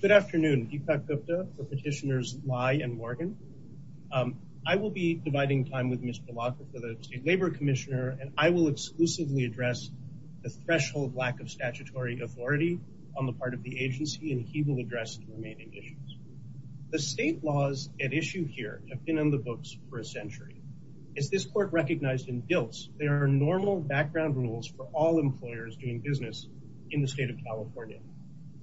Good afternoon, Deepak Gupta for petitioners Lai and Morgan. I will be dividing time with Mr. Lockwood for the State Labor Commissioner and I will exclusively address the threshold lack of statutory authority on the part of the agency and he will address the remaining issues. The state laws at issue here have been in the books for a century. As this court recognized in DILTS, there are normal background rules for all employers doing business in the field.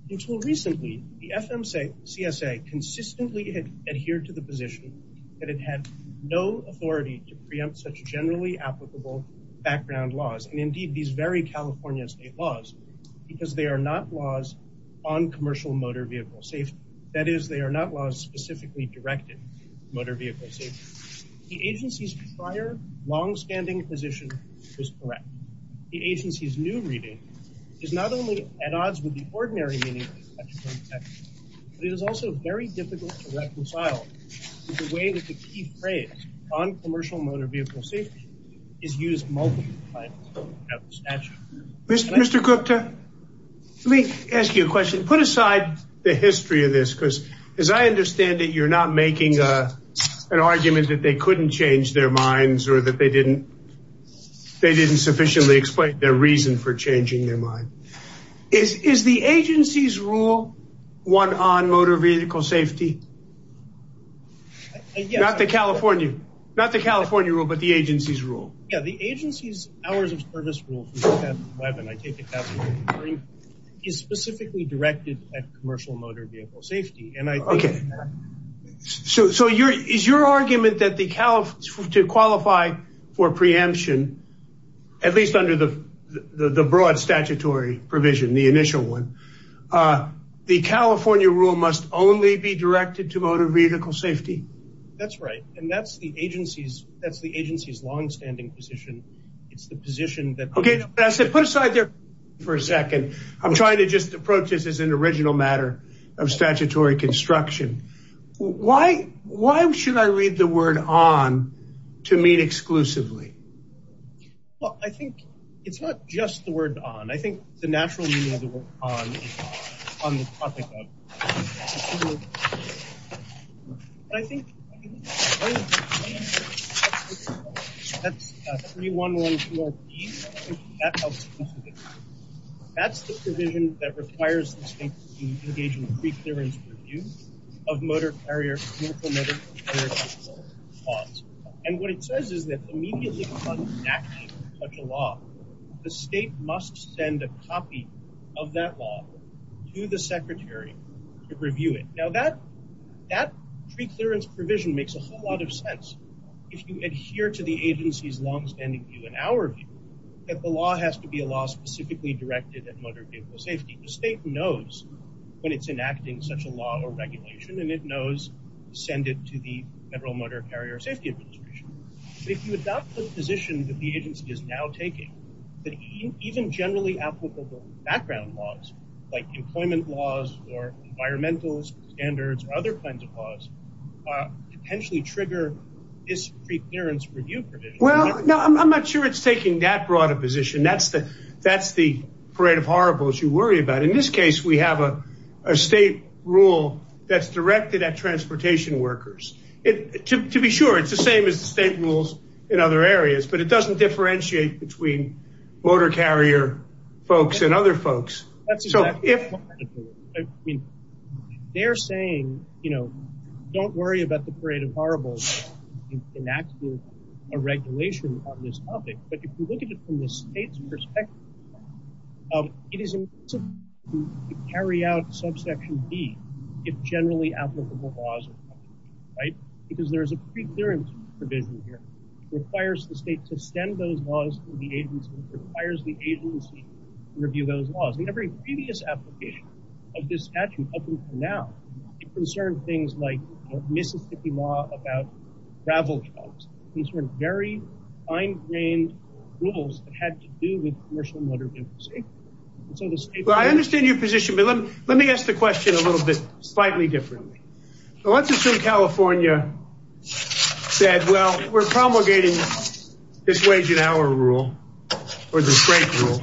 Until recently, the FMCSA consistently adhered to the position that it had no authority to preempt such generally applicable background laws and indeed these very California state laws because they are not laws on commercial motor vehicle safety. That is, they are not laws specifically directed motor vehicle safety. The agency's prior long-standing position is correct. The Mr. Gupta, let me ask you a question. Put aside the history of this because as I understand it you're not making an argument that they couldn't change their minds or that they didn't they didn't sufficiently explain their reason for the agency's rule one on motor vehicle safety? Yes. Not the California, not the California rule but the agency's rule. Yeah, the agency's hours of service rule is specifically directed at commercial motor vehicle safety and I okay so so your is your argument that the Calif to qualify for preemption at least under the broad statutory provision, the initial one, the California rule must only be directed to motor vehicle safety? That's right and that's the agency's that's the agency's long-standing position. It's the position that... Okay, I said put aside there for a second. I'm trying to just approach this as an original matter of statutory construction. Why why should I read the It's not just the word on. I think the natural meaning of the word on is on the topic of... But I think... That's 3112RD. That's the provision that requires the state to engage in a pre-clearance review of motor carrier, commercial motor carrier vehicle laws. And what it says is that immediately upon enacting such a law, the state must send a copy of that law to the secretary to review it. Now that that pre-clearance provision makes a whole lot of sense if you adhere to the agency's long-standing view and our view that the law has to be a law specifically directed at motor vehicle safety. The state knows when it's enacting such a law or regulation and it knows send it to the Federal Motor Carrier Safety Administration. If you adopt the position that the agency is now taking, that even generally applicable background laws like employment laws or environmental standards or other kinds of laws potentially trigger this pre-clearance review provision. Well, no, I'm not sure it's taking that broad a position. That's the parade of horribles you worry about. In this case, we have a state rule that's directed at transportation workers. To be sure, it's the same as the state rules in other areas, but it doesn't differentiate between motor carrier folks and other folks. I mean, they're saying, you know, don't worry about the parade of horribles in enacting a regulation on this topic, but if you look at it from the state's perspective, it is important to carry out subsection D if generally applicable laws apply, right? Because there's a pre-clearance provision here. It requires the state to send those laws to the agency. It requires the agency to review those laws. In every previous application of this statute up until now, it concerned things like Mississippi law about gravel trucks. These were very fine-grained rules that had to do with commercial motor vehicle safety. Well, I understand your position, but let me ask the question a little bit slightly differently. So let's assume California said, well, we're promulgating this wage and hour rule or the state rule.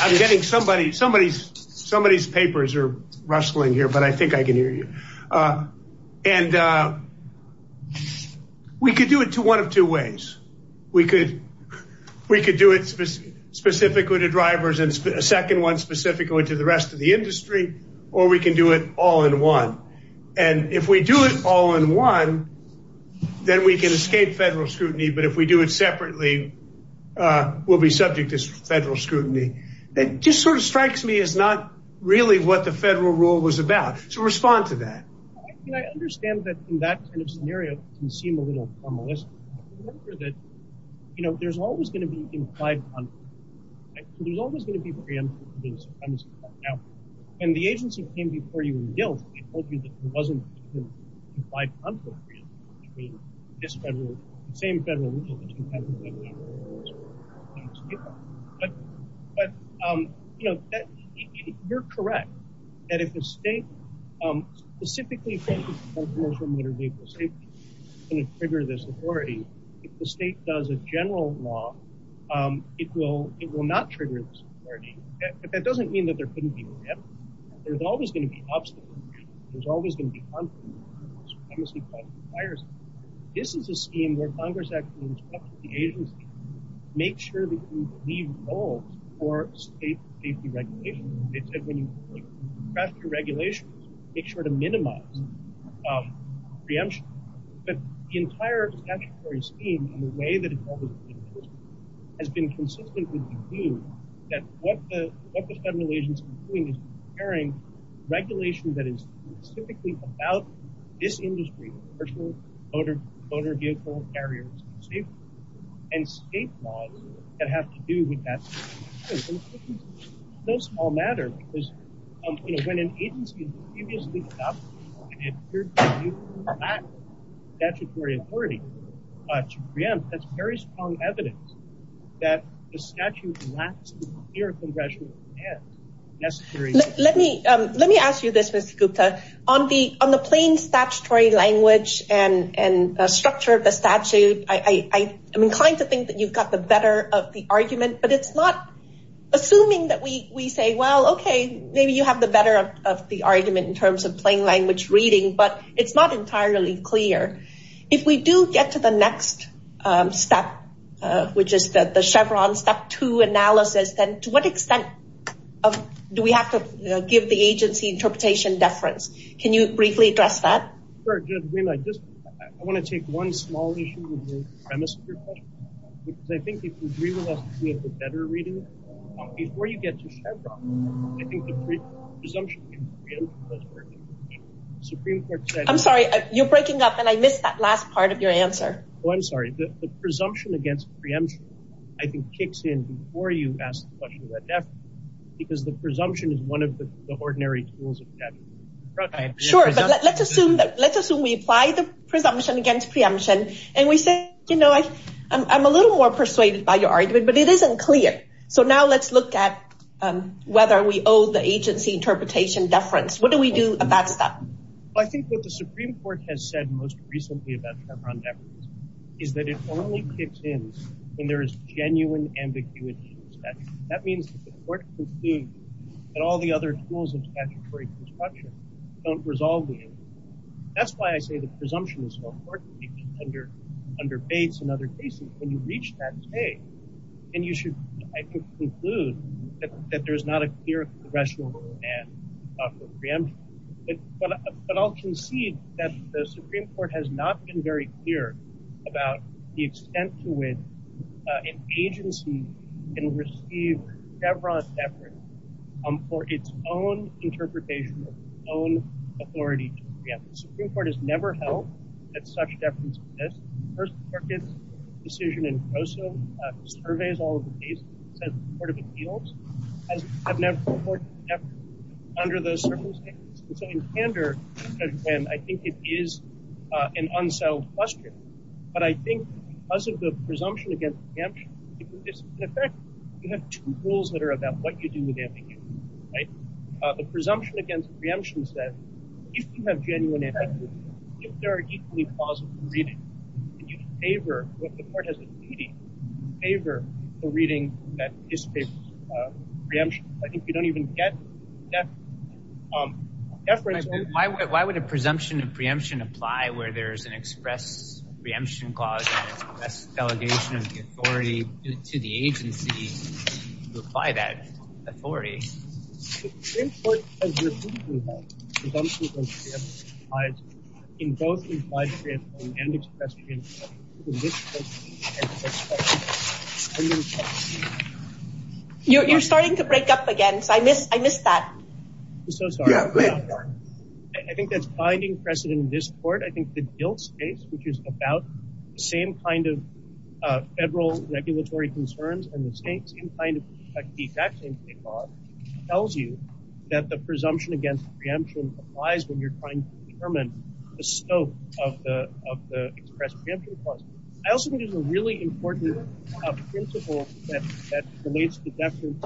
I'm getting somebody's papers are rustling here, but I think I can hear you. And we could do it to one of two ways. We could do it specifically to drivers and a second one specifically to the rest of the industry, or we can do it all in one. And if we do it all in one, then we can escape federal scrutiny, but if we do it separately, we'll be subject to federal scrutiny. That just sort of strikes me as not really what the federal rule was about. So respond to that. I understand that in that kind of scenario, it can seem a little formalistic. But remember that there's always going to be implied conflict. There's always going to be preemptive and supremacy. Now, when the agency came before you in guilt, they told you that there wasn't an implied conflict between this federal, the same federal rule that you have in federal law. But, but, you know, you're correct. And if the state specifically for motor vehicle safety and trigger this authority, if the state does a general law, it will it will not trigger. That doesn't mean that there couldn't be. There's always going to be obstacles. There's always going to be conflict. This is a scheme where Congress actually instructs the agency, make sure that you leave goals for state safety regulations. They said when you draft your regulations, make sure to minimize preemption. But the entire statutory scheme and the way that it has been consistently that what the federal agency is doing is preparing regulation that is specifically about this industry, motor vehicle carriers and state laws that have to do with that. It's no small matter because when an agency has previously adopted a statutory authority to preempt, that's very strong evidence that the statute lacks the clear congressional demands necessary. Let me let me ask you this, Mr. Gupta, on the on the plain statutory language and the structure of the statute. I am inclined to think that you've got the better of the argument, but it's not assuming that we say, well, OK, maybe you have the better of the argument in terms of plain language reading, but it's not entirely clear. If we do get to the next step, which is that the Chevron step two analysis, then to what extent do we have to give the agency interpretation deference? Can you briefly address that? I want to take one small issue with the premise of your question. Because I think if we realize we have the better reading, before you get to Chevron, I think the presumption against preemption does work. I'm sorry, you're breaking up and I missed that last part of your answer. Oh, I'm sorry. The presumption against preemption, I think, kicks in before you ask the question about deference, because the presumption is one of the ordinary tools of the statute. Sure, but let's assume we apply the presumption against preemption and we say, you know, I'm a little more persuaded by your argument, but it isn't clear. So now let's look at whether we owe the agency interpretation deference. What do we do about that? I think what the Supreme Court has said most recently about Chevron deference is that it only kicks in when there is genuine ambiguity in the statute. That means that the court can conclude that all the other tools of statutory construction don't resolve the ambiguity. That's why I say the presumption is so important under Bates and other cases. When you reach that stage, then you should, I think, conclude that there is not a clear congressional demand for preemption. But I'll concede that the Supreme Court has not been very clear about the extent to which an agency can receive Chevron deference for its own interpretation of its own authority to preempt. The Supreme Court has never held that such deference exists. First Circuit's decision in Grosso surveys all of the cases and says that the court of appeals has never put forth an effort under those circumstances. And so in candor, I think it is an unsolved question. But I think because of the presumption against preemption, in effect, you have two rules that are about what you do with ambiguity, right? The presumption against preemption says if you have genuine ambiguity, if there are equally plausible readings, and you favor what the court has a duty, you favor the reading that dissipates preemption. I think you don't even get deference. Why would a presumption of preemption apply where there's an express preemption clause and express delegation of the authority to the agency to apply that authority? The Supreme Court has repeatedly held that presumption of preemption applies in both implied preemption and expressed preemption. You're starting to break up again, so I missed that. I'm so sorry. Yeah, go ahead. I think that's binding precedent in this court. I think the DILT case, which is about the same kind of federal regulatory concerns and the exact same kind of law, tells you that the presumption against preemption applies when you're trying to determine the scope of the expressed preemption clause. I also think there's a really important principle that relates to deference.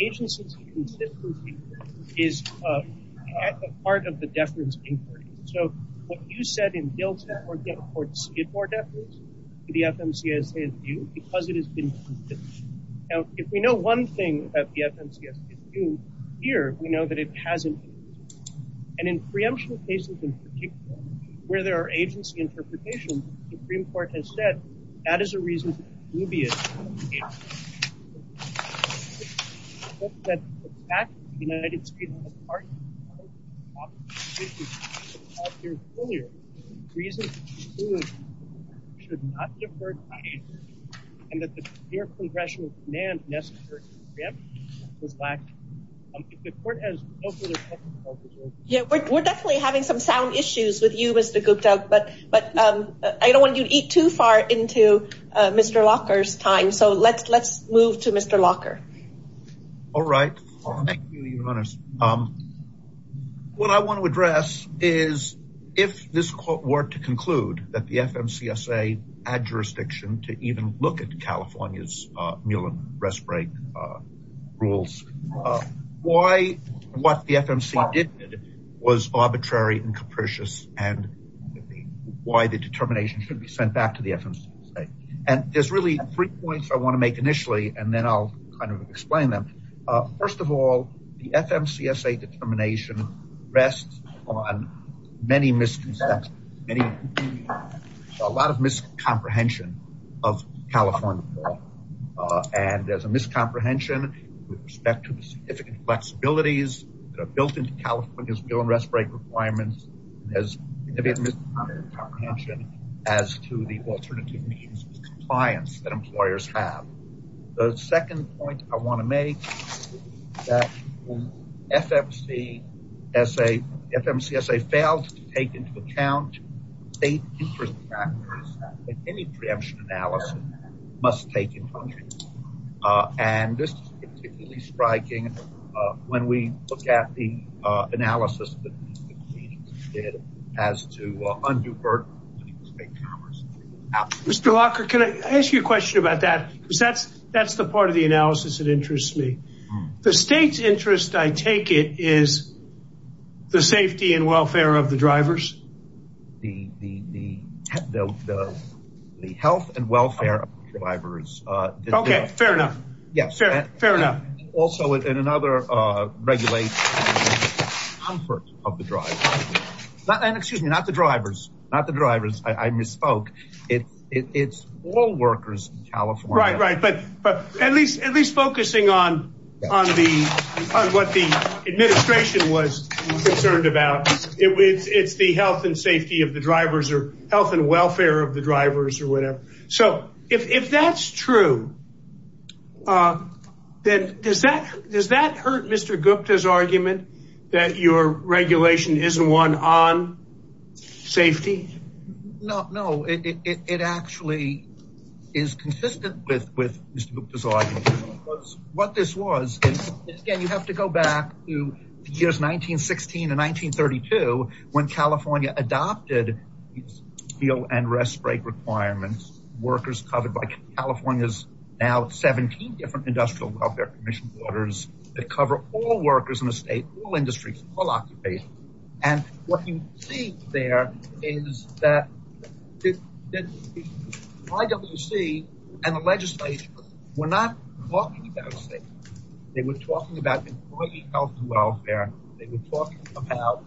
Agencies' consistency is a part of the deference inquiry. So what you said in DILT or the Skidmore deference to the FMCSA is due because it has been consistent. Now, if we know one thing that the FMCSA is due here, we know that it hasn't been used. And in preemption cases in particular, where there are agency interpretations, the Supreme Court has said that is a reason to be dubious. I don't want you to eat too far into Mr. Locker's time. So let's move to Mr. Locker. All right. Thank you, Your Honors. What I want to address is if this court were to conclude that the FMCSA had jurisdiction to even look at California's Muellen rest break rules, why what the FMCSA did was arbitrary and capricious and why the determination should be sent back to the FMCSA. And there's really three points I want to make initially, and then I'll kind of explain them. First of all, the FMCSA determination rests on many misconceptions, a lot of miscomprehension of California law. And there's a miscomprehension with respect to the significant flexibilities that are built into California's Muellen rest break requirements as to the alternative means of compliance that employers have. The second point I want to make is that when FMCSA fails to take into account state interest factors, any preemption analysis must take into account. And this is particularly striking when we look at the analysis that the proceedings did as to undue burden on state commerce. Mr. Lockhart, can I ask you a question about that? Because that's the part of the analysis that interests me. The state's interest, I take it, is the safety and welfare of the drivers? The health and welfare of the drivers. Okay, fair enough. Yes. Fair enough. And also in another regulation, comfort of the driver. And excuse me, not the drivers. Not the drivers. I misspoke. It's all workers in California. Right, right. But at least focusing on what the administration was concerned about. It's the health and safety of the drivers or health and welfare of the drivers or whatever. So if that's true, does that hurt Mr. Gupta's argument that your regulation isn't one on safety? No, it actually is consistent with Mr. Gupta's argument. What this was is, again, you have to go back to the years 1916 and 1932 when California adopted steel and rest break requirements. Workers covered by California's now 17 different industrial welfare commission orders that cover all workers in the state, all industries, all occupations. And what you see there is that IWC and the legislature were not talking about safety. They were talking about employee health and welfare. They were talking about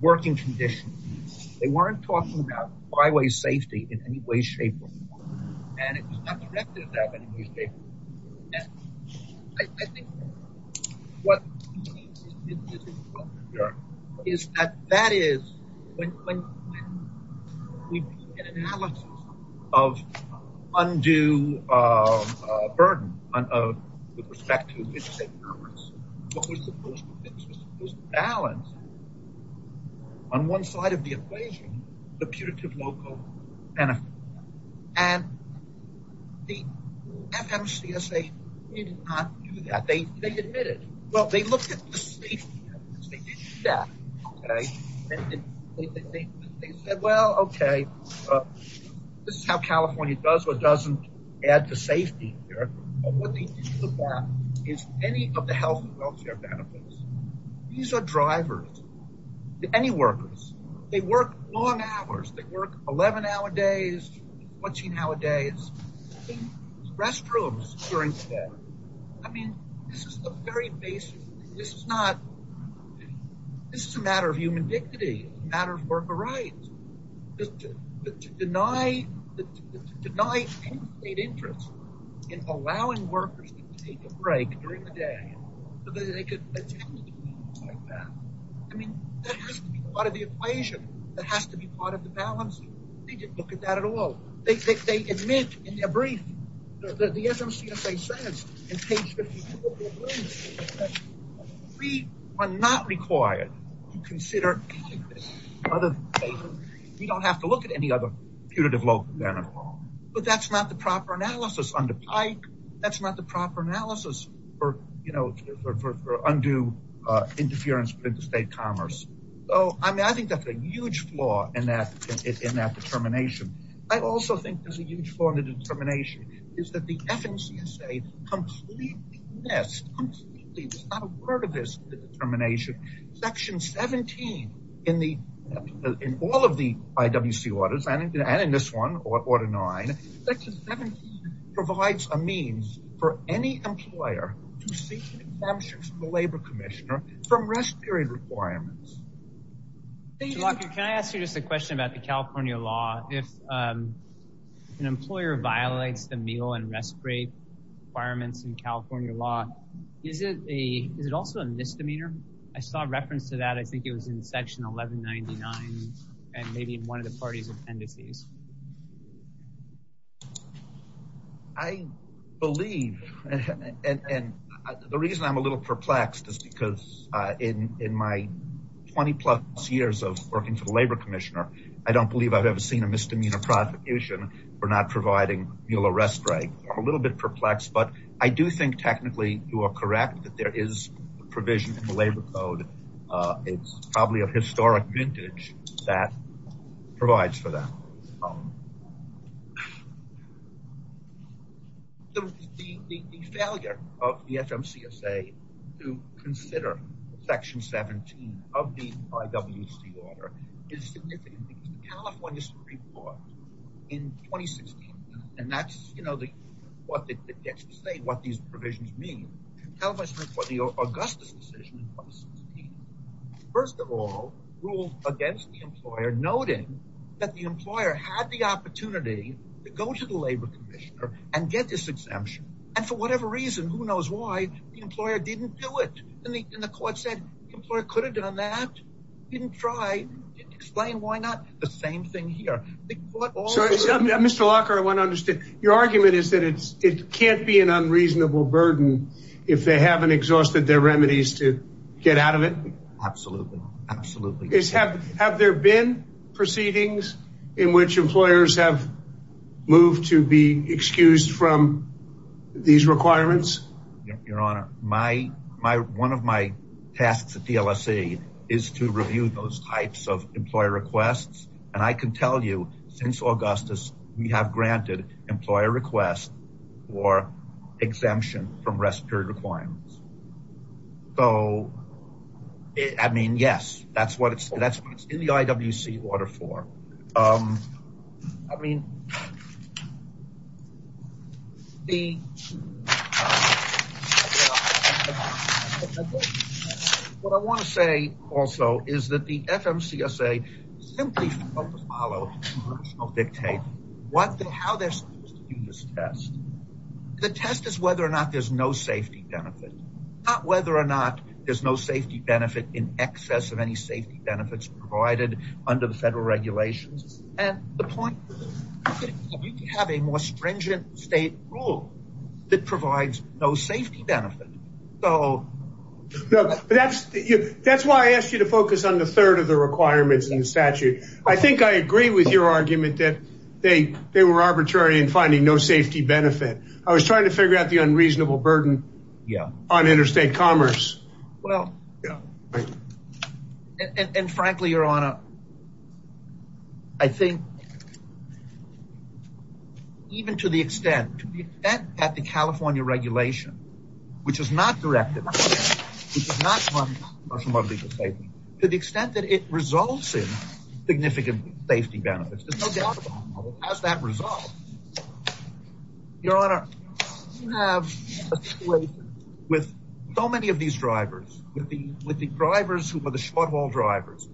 working conditions. They weren't talking about highway safety in any way, shape, or form. And it was not directed at that in any way, shape, or form. I think what is important here is that that is when we do an analysis of undue burden with respect to the state governments, what we're supposed to fix is balance on one side of the equation the punitive local benefit. And the FMCSA did not do that. They admitted. Well, they looked at the safety. They didn't do that. They said, well, okay, this is how California does or doesn't add to safety here. And what they didn't look at is any of the health and welfare benefits. These are drivers. Any workers. They work long hours. They work 11-hour days, 14-hour days, in restrooms during the day. I mean, this is a very basic thing. This is not – this is a matter of human dignity, a matter of worker rights. But to deny state interest in allowing workers to take a break during the day so that they could attend meetings like that, I mean, that has to be part of the equation. That has to be part of the balance. They didn't look at that at all. They admit in their brief that the FMCSA says in page 54 of their brief that we are not required to consider any of this other than we don't have to look at any other punitive local benefit at all. But that's not the proper analysis under PIKE. That's not the proper analysis for undue interference with interstate commerce. So, I mean, I think that's a huge flaw in that determination. I also think there's a huge flaw in the determination is that the FMCSA completely missed, completely is not a part of this determination. Section 17 in the – in all of the IWC orders and in this one, Order 9, Section 17 provides a means for any employer to seek exemptions from the Labor Commissioner from rest period requirements. Can I ask you just a question about the California law? If an employer violates the meal and rest period requirements in California law, is it a – is it also a misdemeanor? I saw a reference to that. I think it was in Section 1199 and maybe in one of the parties' appendices. I believe – and the reason I'm a little perplexed is because in my 20-plus years of working for the Labor Commissioner, I don't believe I've ever seen a misdemeanor prosecution for not providing meal or rest right. I'm a little bit perplexed, but I do think technically you are correct that there is a provision in the Labor Code. It's probably a historic vintage that provides for that. The failure of the FMCSA to consider Section 17 of the IWC order is significant. The California Supreme Court in 2016 – and that's, you know, what it gets to say, what these provisions mean. The California Supreme Court, the Augustus decision in 2016, first of all, ruled against the employer, noting that the employer had the opportunity to go to the Labor Commissioner and get this exemption. And for whatever reason, who knows why, the employer didn't do it. And the court said the employer could have done that. Didn't try. Didn't explain why not. The same thing here. Mr. Lockhart, I want to understand. Your argument is that it can't be an unreasonable burden if they haven't exhausted their remedies to get out of it? Absolutely. Absolutely. Have there been proceedings in which employers have moved to be excused from these requirements? Your Honor, one of my tasks at DLSE is to review those types of employer requests. And I can tell you, since Augustus, we have granted employer requests for exemption from rest period requirements. So, I mean, yes. That's what it's in the IWC order for. I mean, the – what I want to say also is that the FMCSA simply failed to follow congressional dictates how they're supposed to do this test. The test is whether or not there's no safety benefit. Not whether or not there's no safety benefit in excess of any safety benefits provided under the federal regulations. And the point is that we need to have a more stringent state rule that provides no safety benefit. So – No, but that's – that's why I asked you to focus on the third of the requirements in the statute. I think I agree with your argument that they were arbitrary in finding no safety benefit. I was trying to figure out the unreasonable burden. Yeah. On interstate commerce. Well – Yeah. And frankly, Your Honor, I think even to the extent – to the extent that the California regulation, which is not directed – which is not from our legal statement, to the extent that it results in significant safety benefits, there's no doubt about it, has that resolved. Your Honor, we have a situation with so many of these drivers, with the drivers who were the short-haul drivers.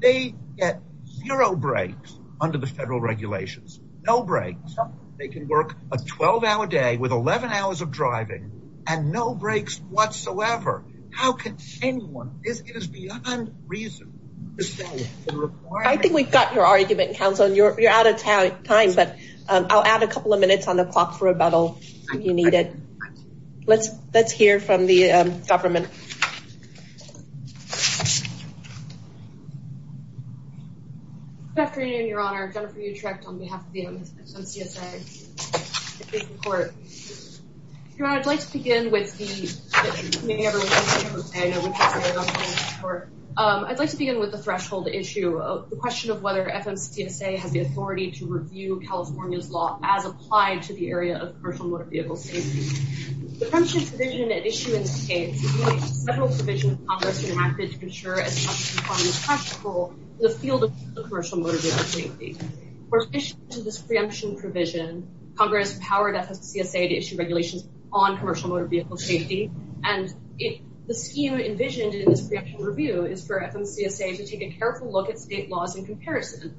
They get zero breaks under the federal regulations. No breaks. They can work a 12-hour day with 11 hours of driving and no breaks whatsoever. How can anyone – it is beyond reason to say the requirement – I think we've got your argument, Counsel, and you're out of time, but I'll add a couple of minutes on the clock for rebuttal if you need it. Let's hear from the government. Good afternoon, Your Honor. Jennifer Utrecht on behalf of the MSMCSA. Your Honor, I'd like to begin with the – I'd like to begin with the threshold issue, the question of whether FMCSA has the authority to review California's law as applied to the area of commercial motor vehicle safety. The preemption provision at issue in the case relates to several provisions Congress enacted to ensure as much as possible the field of commercial motor vehicle safety. In addition to this preemption provision, Congress empowered FMCSA to issue regulations on commercial motor vehicle safety, and the scheme envisioned in this preemption review is for FMCSA to take a careful look at state laws in comparison.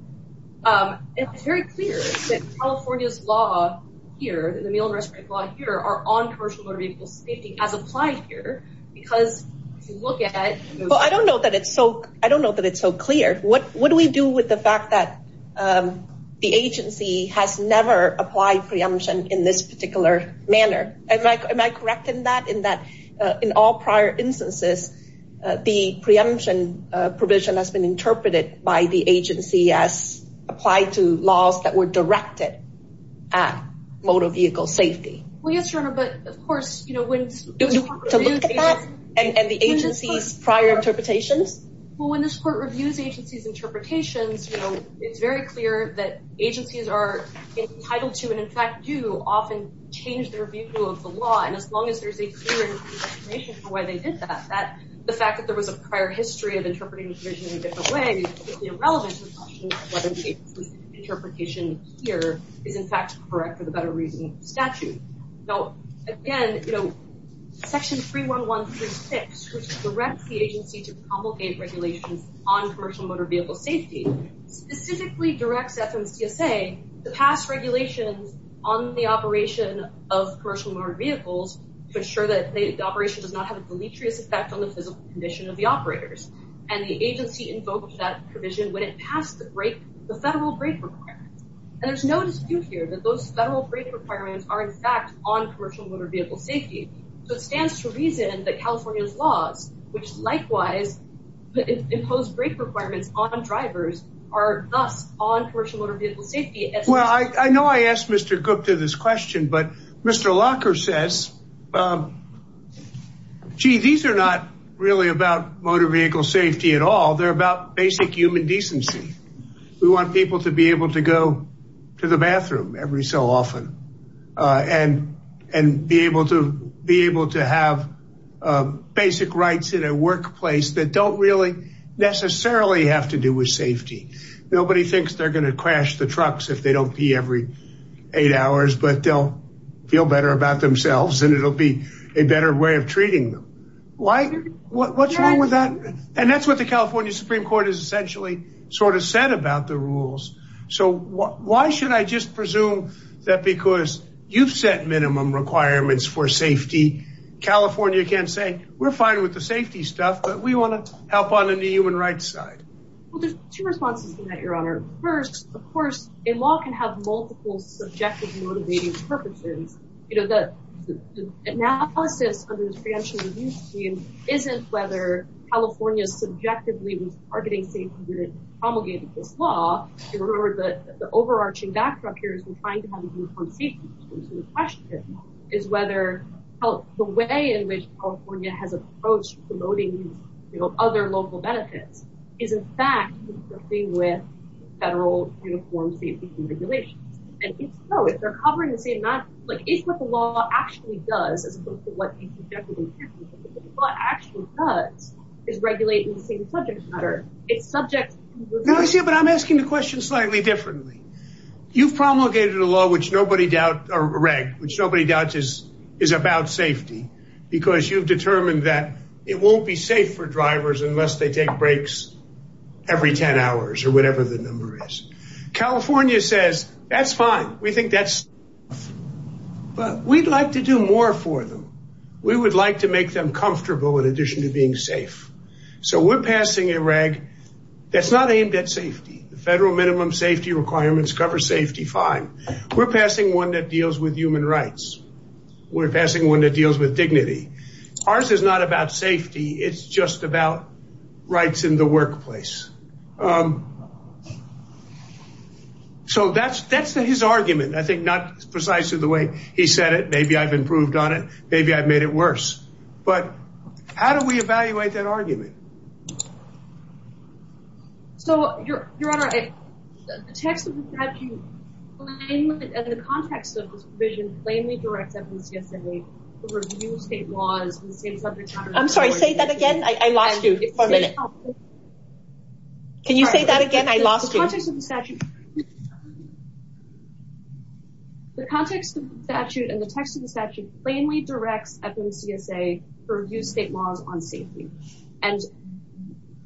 It's very clear that California's law here, the meal and restaurant law here, are on commercial motor vehicle safety as applied here, because if you look at – Well, I don't know that it's so – I don't know that it's so clear. What do we do with the fact that the agency has never applied preemption in this particular manner? Am I correct in that, in that in all prior instances, the preemption provision has been interpreted by the agency as applied to laws that were directed at motor vehicle safety? Well, yes, Your Honor, but of course, you know, when – Do we have to look at that and the agency's prior interpretations? Well, when this Court reviews the agency's interpretations, you know, it's very clear that agencies are entitled to and, in fact, do often change their view of the law. And as long as there's a clear explanation for why they did that, the fact that there was a prior history of interpreting the provision in a different way, it's completely irrelevant to the question of whether the agency's interpretation here is, in fact, correct for the better reason of the statute. Now, again, you know, Section 31136, which directs the agency to promulgate regulations on commercial motor vehicle safety, specifically directs FMCSA to pass regulations on the operation of commercial motor vehicles to ensure that the operation does not have a deleterious effect on the physical condition of the operators. And the agency invoked that provision when it passed the federal brake requirements. And there's no dispute here that those federal brake requirements are, in fact, on commercial motor vehicle safety. So it stands to reason that California's laws, which likewise impose brake requirements on drivers, are thus on commercial motor vehicle safety. Well, I know I asked Mr. Cook to this question, but Mr. Locker says, gee, these are not really about motor vehicle safety at all. They're about basic human decency. We want people to be able to go to the bathroom every so often and be able to be able to have basic rights in a workplace that don't really necessarily have to do with safety. Nobody thinks they're going to crash the trucks if they don't pee every eight hours, but they'll feel better about themselves and it'll be a better way of treating them. Why? What's wrong with that? And that's what the California Supreme Court has essentially sort of said about the rules. So why should I just presume that because you've set minimum requirements for safety, California can say we're fine with the safety stuff, but we want to help on the human rights side. Well, there's two responses to that, Your Honor. First, of course, a law can have multiple subjective motivating purposes. You know, the analysis of the financial review team isn't whether California subjectively was targeting safety when it promulgated this law. You remember the overarching backdrop here is we're trying to have a uniform safety. So the question is whether the way in which California has approached promoting other local benefits is in fact working with federal uniform safety regulations. And if so, if they're covering the same amount, like it's what the law actually does as opposed to what you subjectively do. What the law actually does is regulate in the same subject matter. But I'm asking the question slightly differently. You've promulgated a law, which nobody doubts is about safety because you've determined that it won't be safe for drivers unless they take breaks every 10 hours or whatever the number is. California says that's fine. We think that's but we'd like to do more for them. We would like to make them comfortable in addition to being safe. So we're passing a reg that's not aimed at safety. The federal minimum safety requirements cover safety fine. We're passing one that deals with human rights. We're passing one that deals with dignity. Ours is not about safety. It's just about rights in the workplace. So that's that's his argument. I think not precisely the way he said it. Maybe I've improved on it. Maybe I've made it worse. But how do we evaluate that argument? So, Your Honor, the text of the statute and the context of this provision plainly directs FDCSA to review state laws in the same subject matter. I'm sorry, say that again. I lost you for a minute. Can you say that again? I lost you. The context of the statute. The context of the statute and the text of the statute plainly directs FDCSA to review state laws on safety. And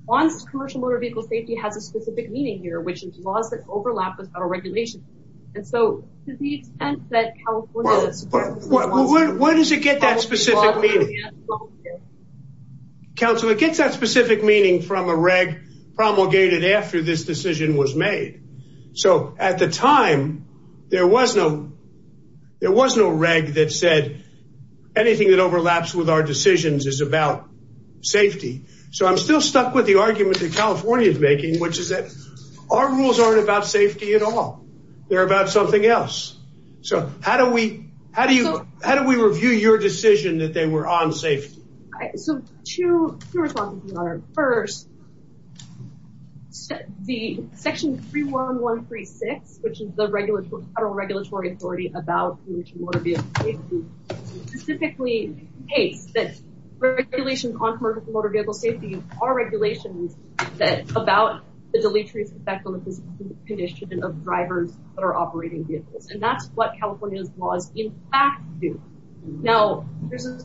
once commercial motor vehicle safety has a specific meaning here, which is laws that overlap with federal regulations. And so to the extent that California. Where does it get that specific meaning? Counsel, it gets that specific meaning from a reg promulgated after this decision was made. So at the time, there was no there was no reg that said anything that overlaps with our decisions is about safety. So I'm still stuck with the argument that California is making, which is that our rules aren't about safety at all. They're about something else. So how do we how do you how do we review your decision that they were on safety? So two responses, Your Honor. First, the section 31136, which is the Federal Regulatory Authority about motor vehicle safety, specifically states that regulations on commercial motor vehicle safety are regulations that about the deleterious effect on the physical condition of drivers that are operating vehicles. And that's what California's laws, in fact, do. Now, there's a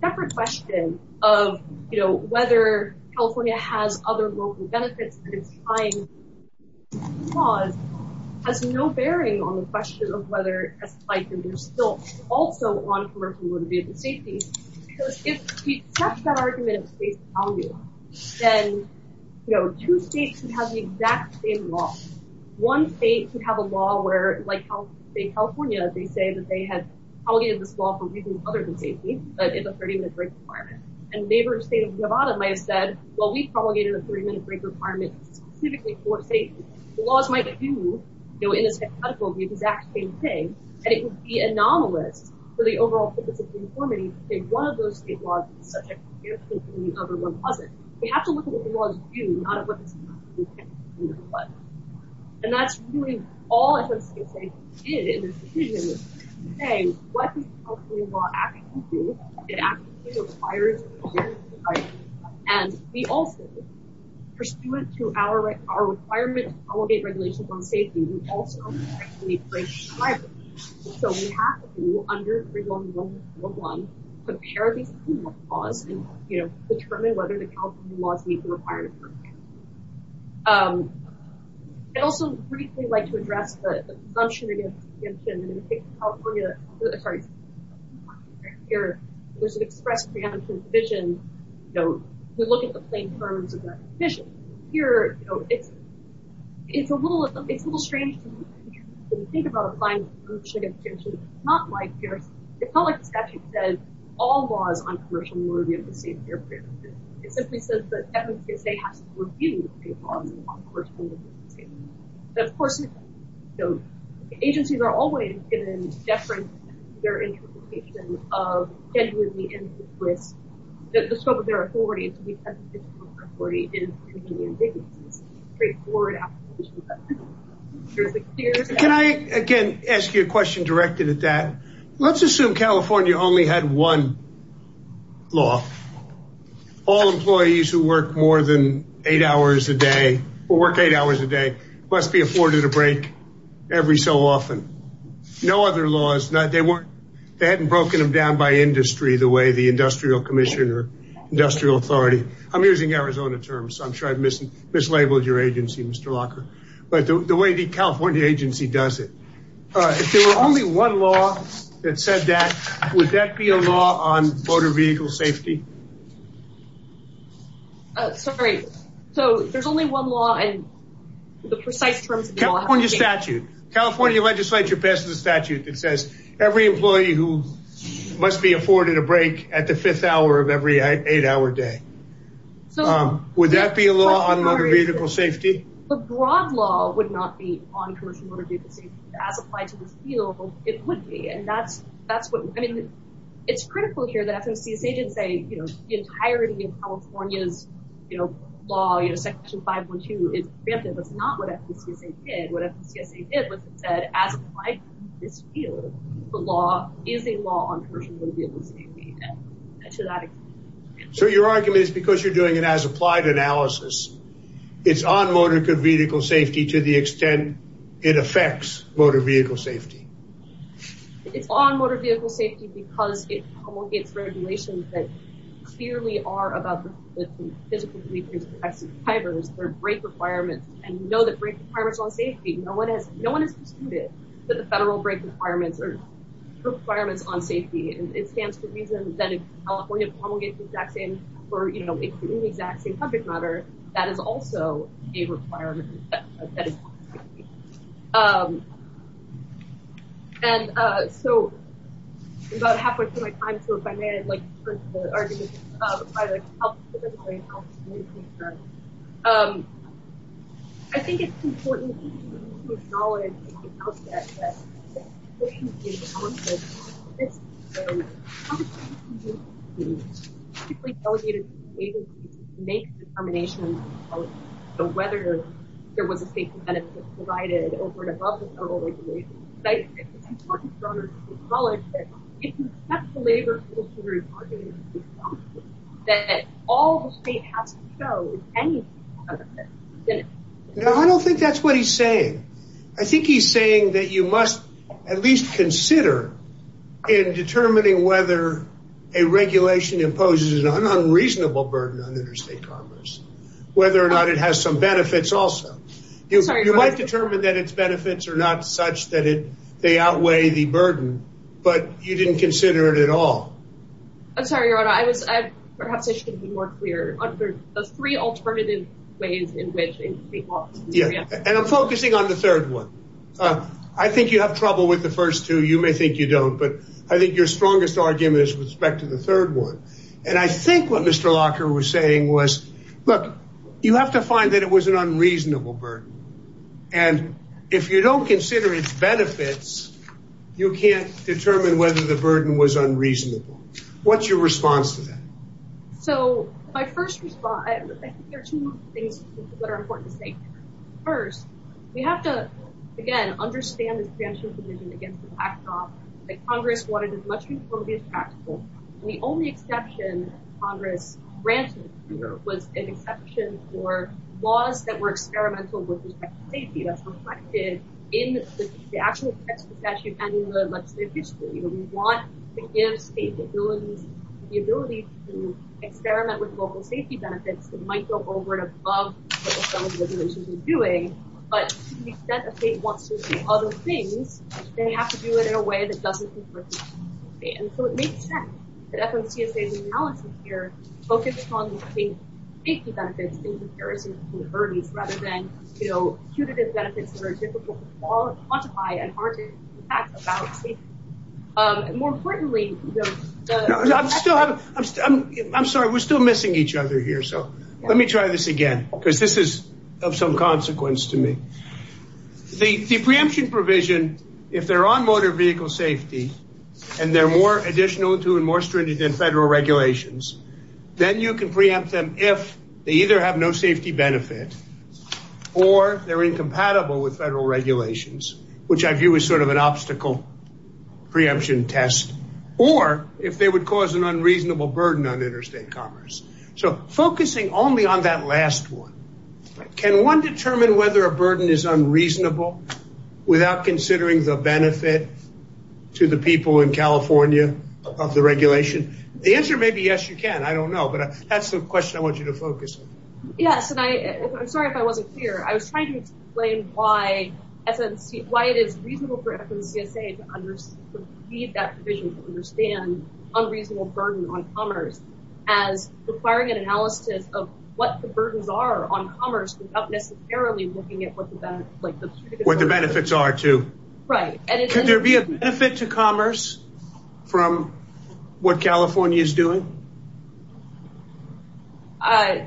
separate question of, you know, whether California has other local benefits. And it's fine. Laws has no bearing on the question of whether it's like you're still also on commercial motor vehicle safety. If we accept that argument, then two states could have the exact same law. One state could have a law where, like California, they say that they have propagated this law for reasons other than safety. But it's a 30 minute break requirement. And a neighbor state of Nevada might have said, well, we propagated a 30 minute break requirement specifically for safety. The laws might do, you know, in this hypothetical, the exact same thing. And it would be anomalous for the overall purpose of the informant to say one of those state laws is subject to the other one wasn't. We have to look at what the laws do, not at what the state laws do. And that's really all the state states did in this decision to say, what does California law actually do? It actually requires a 30 minute break. And we also, pursuant to our requirement to propagate regulations on safety, we also need a break requirement. So we have to, under 3111, compare these two laws and, you know, determine whether the California laws meet the requirement. I'd also briefly like to address the presumption against exemption. Here, there's an express preemption provision, you know, to look at the plain terms of that provision. Here, you know, it's a little strange to think about applying the presumption against exemption. It's not like the statute says all laws on commercial motor vehicle safety are preempted. It simply says that FMTSA has to review state laws on commercial motor vehicle safety. Of course, you know, agencies are always going to deference their interpretation of the scope of their authority and to be present in the scope of their authority. Can I again ask you a question directed at that? Let's assume California only had one law. All employees who work more than eight hours a day, or work eight hours a day, must be afforded a break every so often. No other laws, they weren't, they hadn't broken them down by industry the way the industrial commission or industrial authority. I'm using Arizona terms, so I'm sure I've mislabeled your agency, Mr. Locker. But the way the California agency does it. If there were only one law that said that, would that be a law on motor vehicle safety? Sorry, so there's only one law and the precise terms of the law. California statute. California legislature passed a statute that says every employee who must be afforded a break at the fifth hour of every eight hour day. Would that be a law on motor vehicle safety? The broad law would not be on commercial motor vehicle safety. As applied to this field, it would be. And that's what, I mean, it's critical here that FDCSA didn't say, you know, the entirety of California's law, you know, section 512 is preemptive. That's not what FDCSA did. What FDCSA did was it said, as applied to this field, the law is a law on commercial motor vehicle safety. So your argument is because you're doing an as applied analysis. It's on motor vehicle safety to the extent it affects motor vehicle safety. It's on motor vehicle safety because it promulgates regulations that clearly are about the physical behaviors of the drivers. There are break requirements. And we know that break requirements are on safety. No one has, no one has disputed that the federal break requirements are requirements on safety. It stands to reason that if California promulgates the exact same, or, you know, the exact same subject matter, that is also a requirement. And so about halfway through my time, so if I may, I'd like to turn to the arguments of the public. I think it's important. So how does FDCSA do this? It's typically delegated to the agencies to make determinations on whether there was a state benefit provided over and above the federal regulations. But I think it's important for others to acknowledge that if you accept the labor rules through bargaining agreements, that all the state has to show is any state benefit. No, I don't think that's what he's saying. I think he's saying that you must at least consider in determining whether a regulation imposes an unreasonable burden on interstate commerce, whether or not it has some benefits also. You might determine that its benefits are not such that they outweigh the burden, but you didn't consider it at all. I'm sorry, Your Honor. I was, perhaps I should be more clear. The three alternative ways in which a state wants to do it. And I'm focusing on the third one. I think you have trouble with the first two. You may think you don't, but I think your strongest argument is with respect to the third one. And I think what Mr. Locker was saying was, look, you have to find that it was an unreasonable burden. And if you don't consider its benefits, you can't determine whether the burden was unreasonable. What's your response to that? So my first response, I think there are two things that are important to say. First, we have to, again, understand this preemption provision against the backdrop that Congress wanted as much reform to be as practical. And the only exception Congress granted here was an exception for laws that were experimental with respect to safety. That's reflected in the actual text of the statute and in the legislative history. We want to give states the ability to experiment with local safety benefits. It might go over and above what some of the regulations are doing, but to the extent a state wants to do other things, they have to do it in a way that doesn't confront the state. And so it makes sense that FMCSA's analysis here focused on the state's safety benefits in comparison to the burdens, rather than, you know, punitive benefits that are difficult to quantify and hard to impact about safety. More importantly, I'm sorry, we're still missing each other here. So let me try this again, because this is of some consequence to me. The preemption provision, if they're on motor vehicle safety and they're more additional to and more stringent than federal regulations, then you can preempt them if they either have no safety benefit or they're incompatible with federal regulations, which I view as sort of an obstacle preemption test, or if they would cause an unreasonable burden on interstate commerce. So focusing only on that last one, can one determine whether a burden is unreasonable without considering the benefit to the people in California of the regulation? The answer may be yes, you can. I don't know, but that's the question I want you to focus on. Yes, and I'm sorry if I wasn't clear. I was trying to explain why it is reasonable for FMCSA to leave that provision to understand unreasonable burden on commerce, as requiring an analysis of what the burdens are on commerce without necessarily looking at what the benefits are to. Right. Could there be a benefit to commerce from what California is doing? I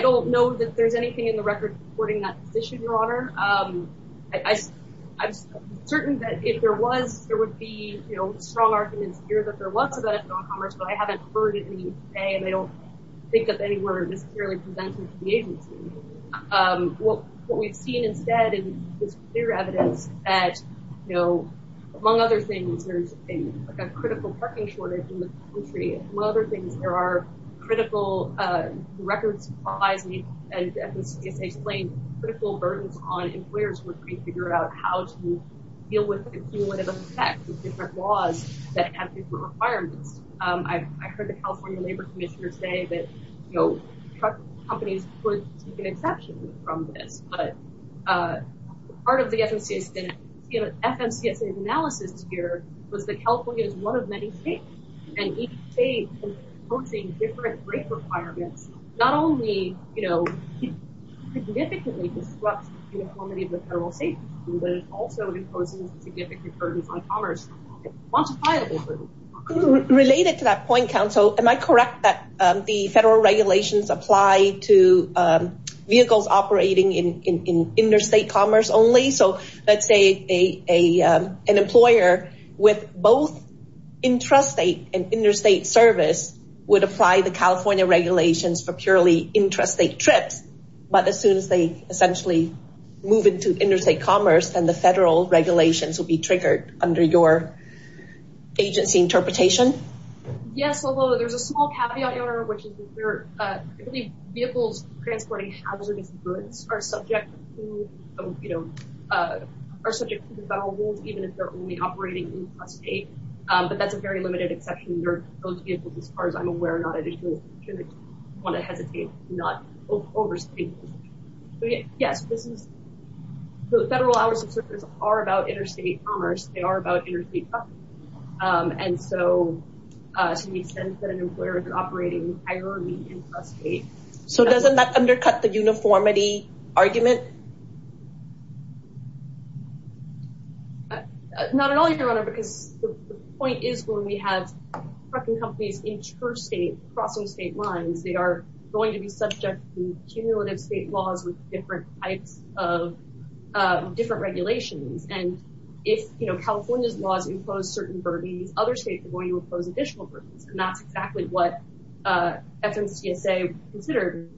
don't know that there's anything in the record supporting that position, Your Honor. I'm certain that if there was, there would be strong arguments here that there was a benefit on commerce, but I haven't heard it in the UK, and I don't think that they were necessarily presented to the agency. What we've seen instead is clear evidence that, you know, among other things, there's a critical parking shortage in the country. Among other things, there are critical records and FMCSA explains critical burdens on employers when they figure out how to deal with and deal with the effects of different laws that have different requirements. I've heard the California Labor Commissioner say that, you know, truck companies would be an exception from this, but part of the FMCSA analysis here was that California is one of many states, and each state is imposing different rate requirements, not only, you know, significantly disrupts the uniformity of the federal state, but it also imposes significant burdens on commerce, quantifiable burdens. Related to that point, counsel, am I correct that the federal regulations apply to vehicles operating in interstate commerce only? So let's say an employer with both intrastate and interstate service would apply the California regulations for purely intrastate trips, but as soon as they essentially move into interstate commerce, then the federal regulations would be triggered under your agency interpretation? Yes, although there's a small caveat here, which is vehicles transporting hazardous goods are subject to, you know, are subject to the federal rules even if they're only operating in the state, but that's a very limited exception. Those vehicles, as far as I'm aware, are not additional. I don't want to hesitate to not overstate this. Yes, this is, the federal hours of service are about interstate commerce. They are about interstate commerce, and so to the extent that an employer is operating entirely intrastate. So doesn't that undercut the uniformity argument? Not at all, Your Honor, because the point is when we have trucking companies interstate, crossing state lines, they are going to be subject to cumulative state laws with different types of different regulations, and if, you know, California's laws impose certain burdens, other states are going to impose additional burdens, and that's exactly what FMCSA considered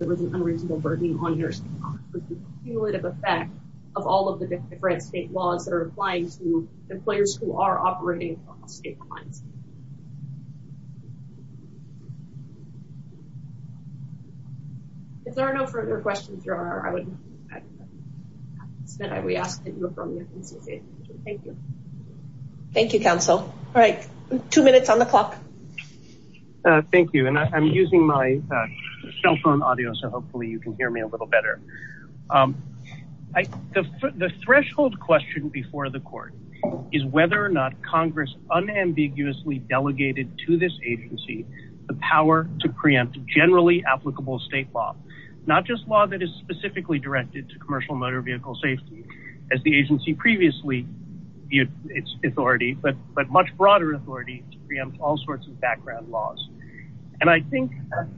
unreasonable burdening on interstate commerce, with the cumulative effect of all of the different state laws that are applying to employers who are operating across state lines. If there are no further questions, Your Honor, I would ask that we ask that you affirm the FMCSA. Thank you. Thank you, counsel. All right, two minutes on the clock. Thank you, and I'm using my cell phone audio, so hopefully you can hear me a little better. The threshold question before the court is whether or not Congress unambiguously delegated to this agency the power to preempt generally applicable state law, not just law that is specifically directed to commercial motor vehicle safety, as the agency previously viewed its authority, but much broader authority to preempt all sorts of background laws, and I think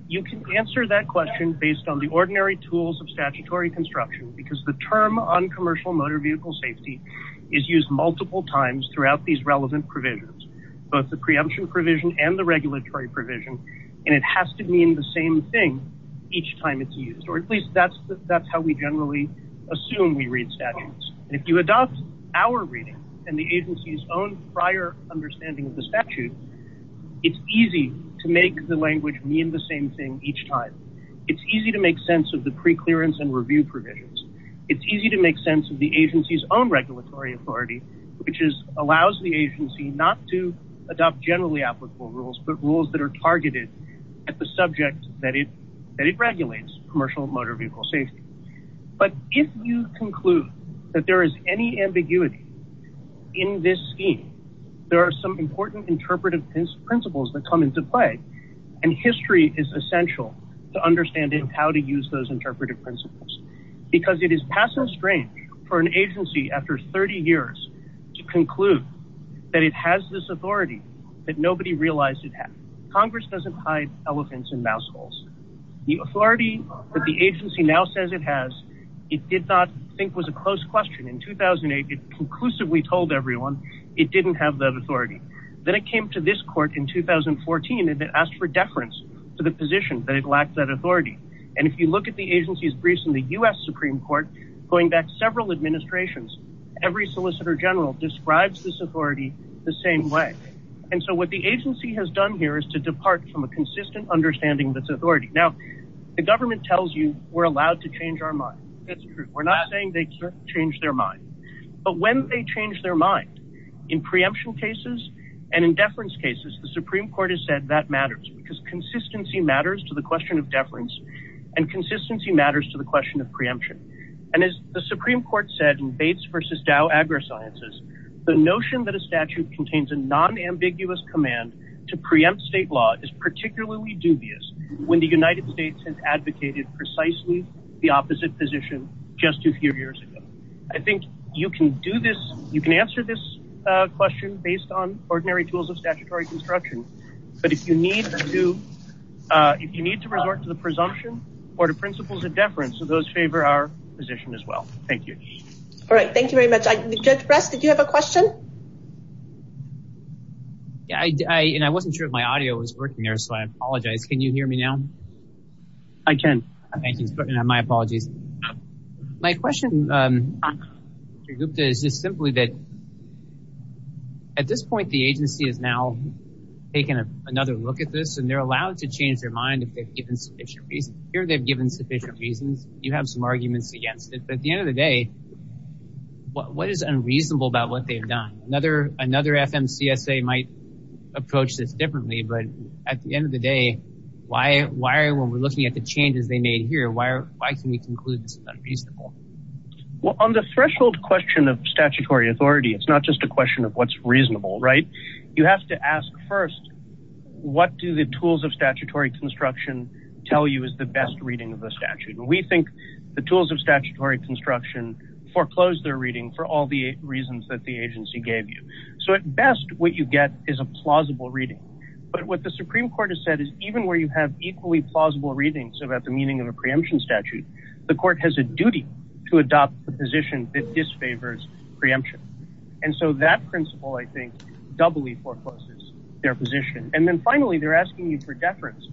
you can answer that question based on the ordinary tools of statutory construction, because the term on commercial motor vehicle safety is used multiple times throughout these relevant provisions, both the preemption provision and the regulatory provision, and it has to mean the same thing each time it's used, or at least that's how we generally assume we read statutes. If you adopt our reading and the agency's own prior understanding of the statute, it's easy to make the language mean the same thing each time. It's easy to make sense of the preclearance and review provisions. It's easy to make sense of the agency's own regulatory authority, which allows the agency not to adopt generally applicable rules, but rules that are targeted at the subject that it regulates, commercial motor vehicle safety. But if you conclude that there is any ambiguity in this scheme, there are some important interpretive principles that come into play, and history is essential to understanding how to use those interpretive principles, because it is passing strange for an agency after 30 years to conclude that it has this authority that nobody realized it had. Congress doesn't hide elephants in mouse holes. The authority that the agency now says it has, it did not think was a close question. In 2008, it conclusively told everyone it didn't have that authority. Then it came to this court in 2014, and it asked for deference to the position that it lacked that authority. And if you look at the agency's briefs in the U.S. Supreme Court, going back several administrations, every solicitor general describes this authority the same way. And so what the agency has done here is to depart from a consistent understanding of its authority. Now, the government tells you we're allowed to change our mind. That's true. We're not saying they can't change their mind. But when they change their mind, in preemption cases and in deference cases, the Supreme Court has said that matters, because consistency matters to the question of deference, and consistency matters to the question of preemption. And as the Supreme Court said in Bates v. Dow AgriSciences, the notion that a statute contains a nonambiguous command to preempt state law is particularly dubious when the United States has advocated precisely the opposite position just a few years ago. I think you can do this. You can answer this question based on ordinary tools of statutory construction. But if you need to, if you need to resort to the presumption or to principles of deference, those favor our position as well. Thank you. All right. Thank you very much. Judge Press, did you have a question? I wasn't sure if my audio was working there, so I apologize. Can you hear me now? I can. Thank you. My apologies. My question, Mr. Gupta, is just simply that at this point the agency is now taking another look at this, and they're allowed to change their mind if they've given sufficient reasons. Here they've given sufficient reasons. You have some arguments against it. But at the end of the day, what is unreasonable about what they've done? Another FMCSA might approach this differently, but at the end of the day, when we're looking at the changes they made here, why can we conclude this is unreasonable? Well, on the threshold question of statutory authority, it's not just a question of what's reasonable, right? You have to ask first, what do the tools of statutory construction tell you is the best reading of the statute? And we think the tools of statutory construction foreclose their reading for all the reasons that the agency gave you. So at best, what you get is a plausible reading. But what the Supreme Court has said is even where you have equally plausible readings about the meaning of a preemption statute, the court has a duty to adopt the position that disfavors preemption. And so that principle, I think, doubly forecloses their position. And then finally, they're asking you for deference.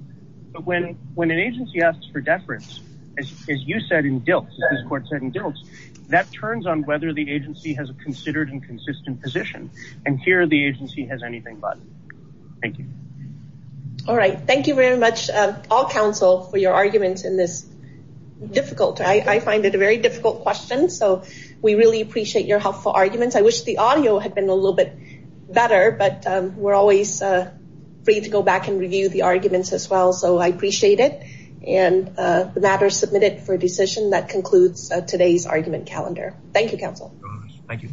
But when an agency asks for deference, as you said in Dilts, as this court said in Dilts, that turns on whether the agency has a considered and consistent position. And here, the agency has anything but. Thank you. All right. Thank you very much, all counsel, for your arguments in this difficult. I find it a very difficult question. So we really appreciate your helpful arguments. I wish the audio had been a little bit better, but we're always free to go back and review the arguments as well. So I appreciate it. And the matter is submitted for a decision that concludes today's argument calendar. Thank you, counsel. Thank you.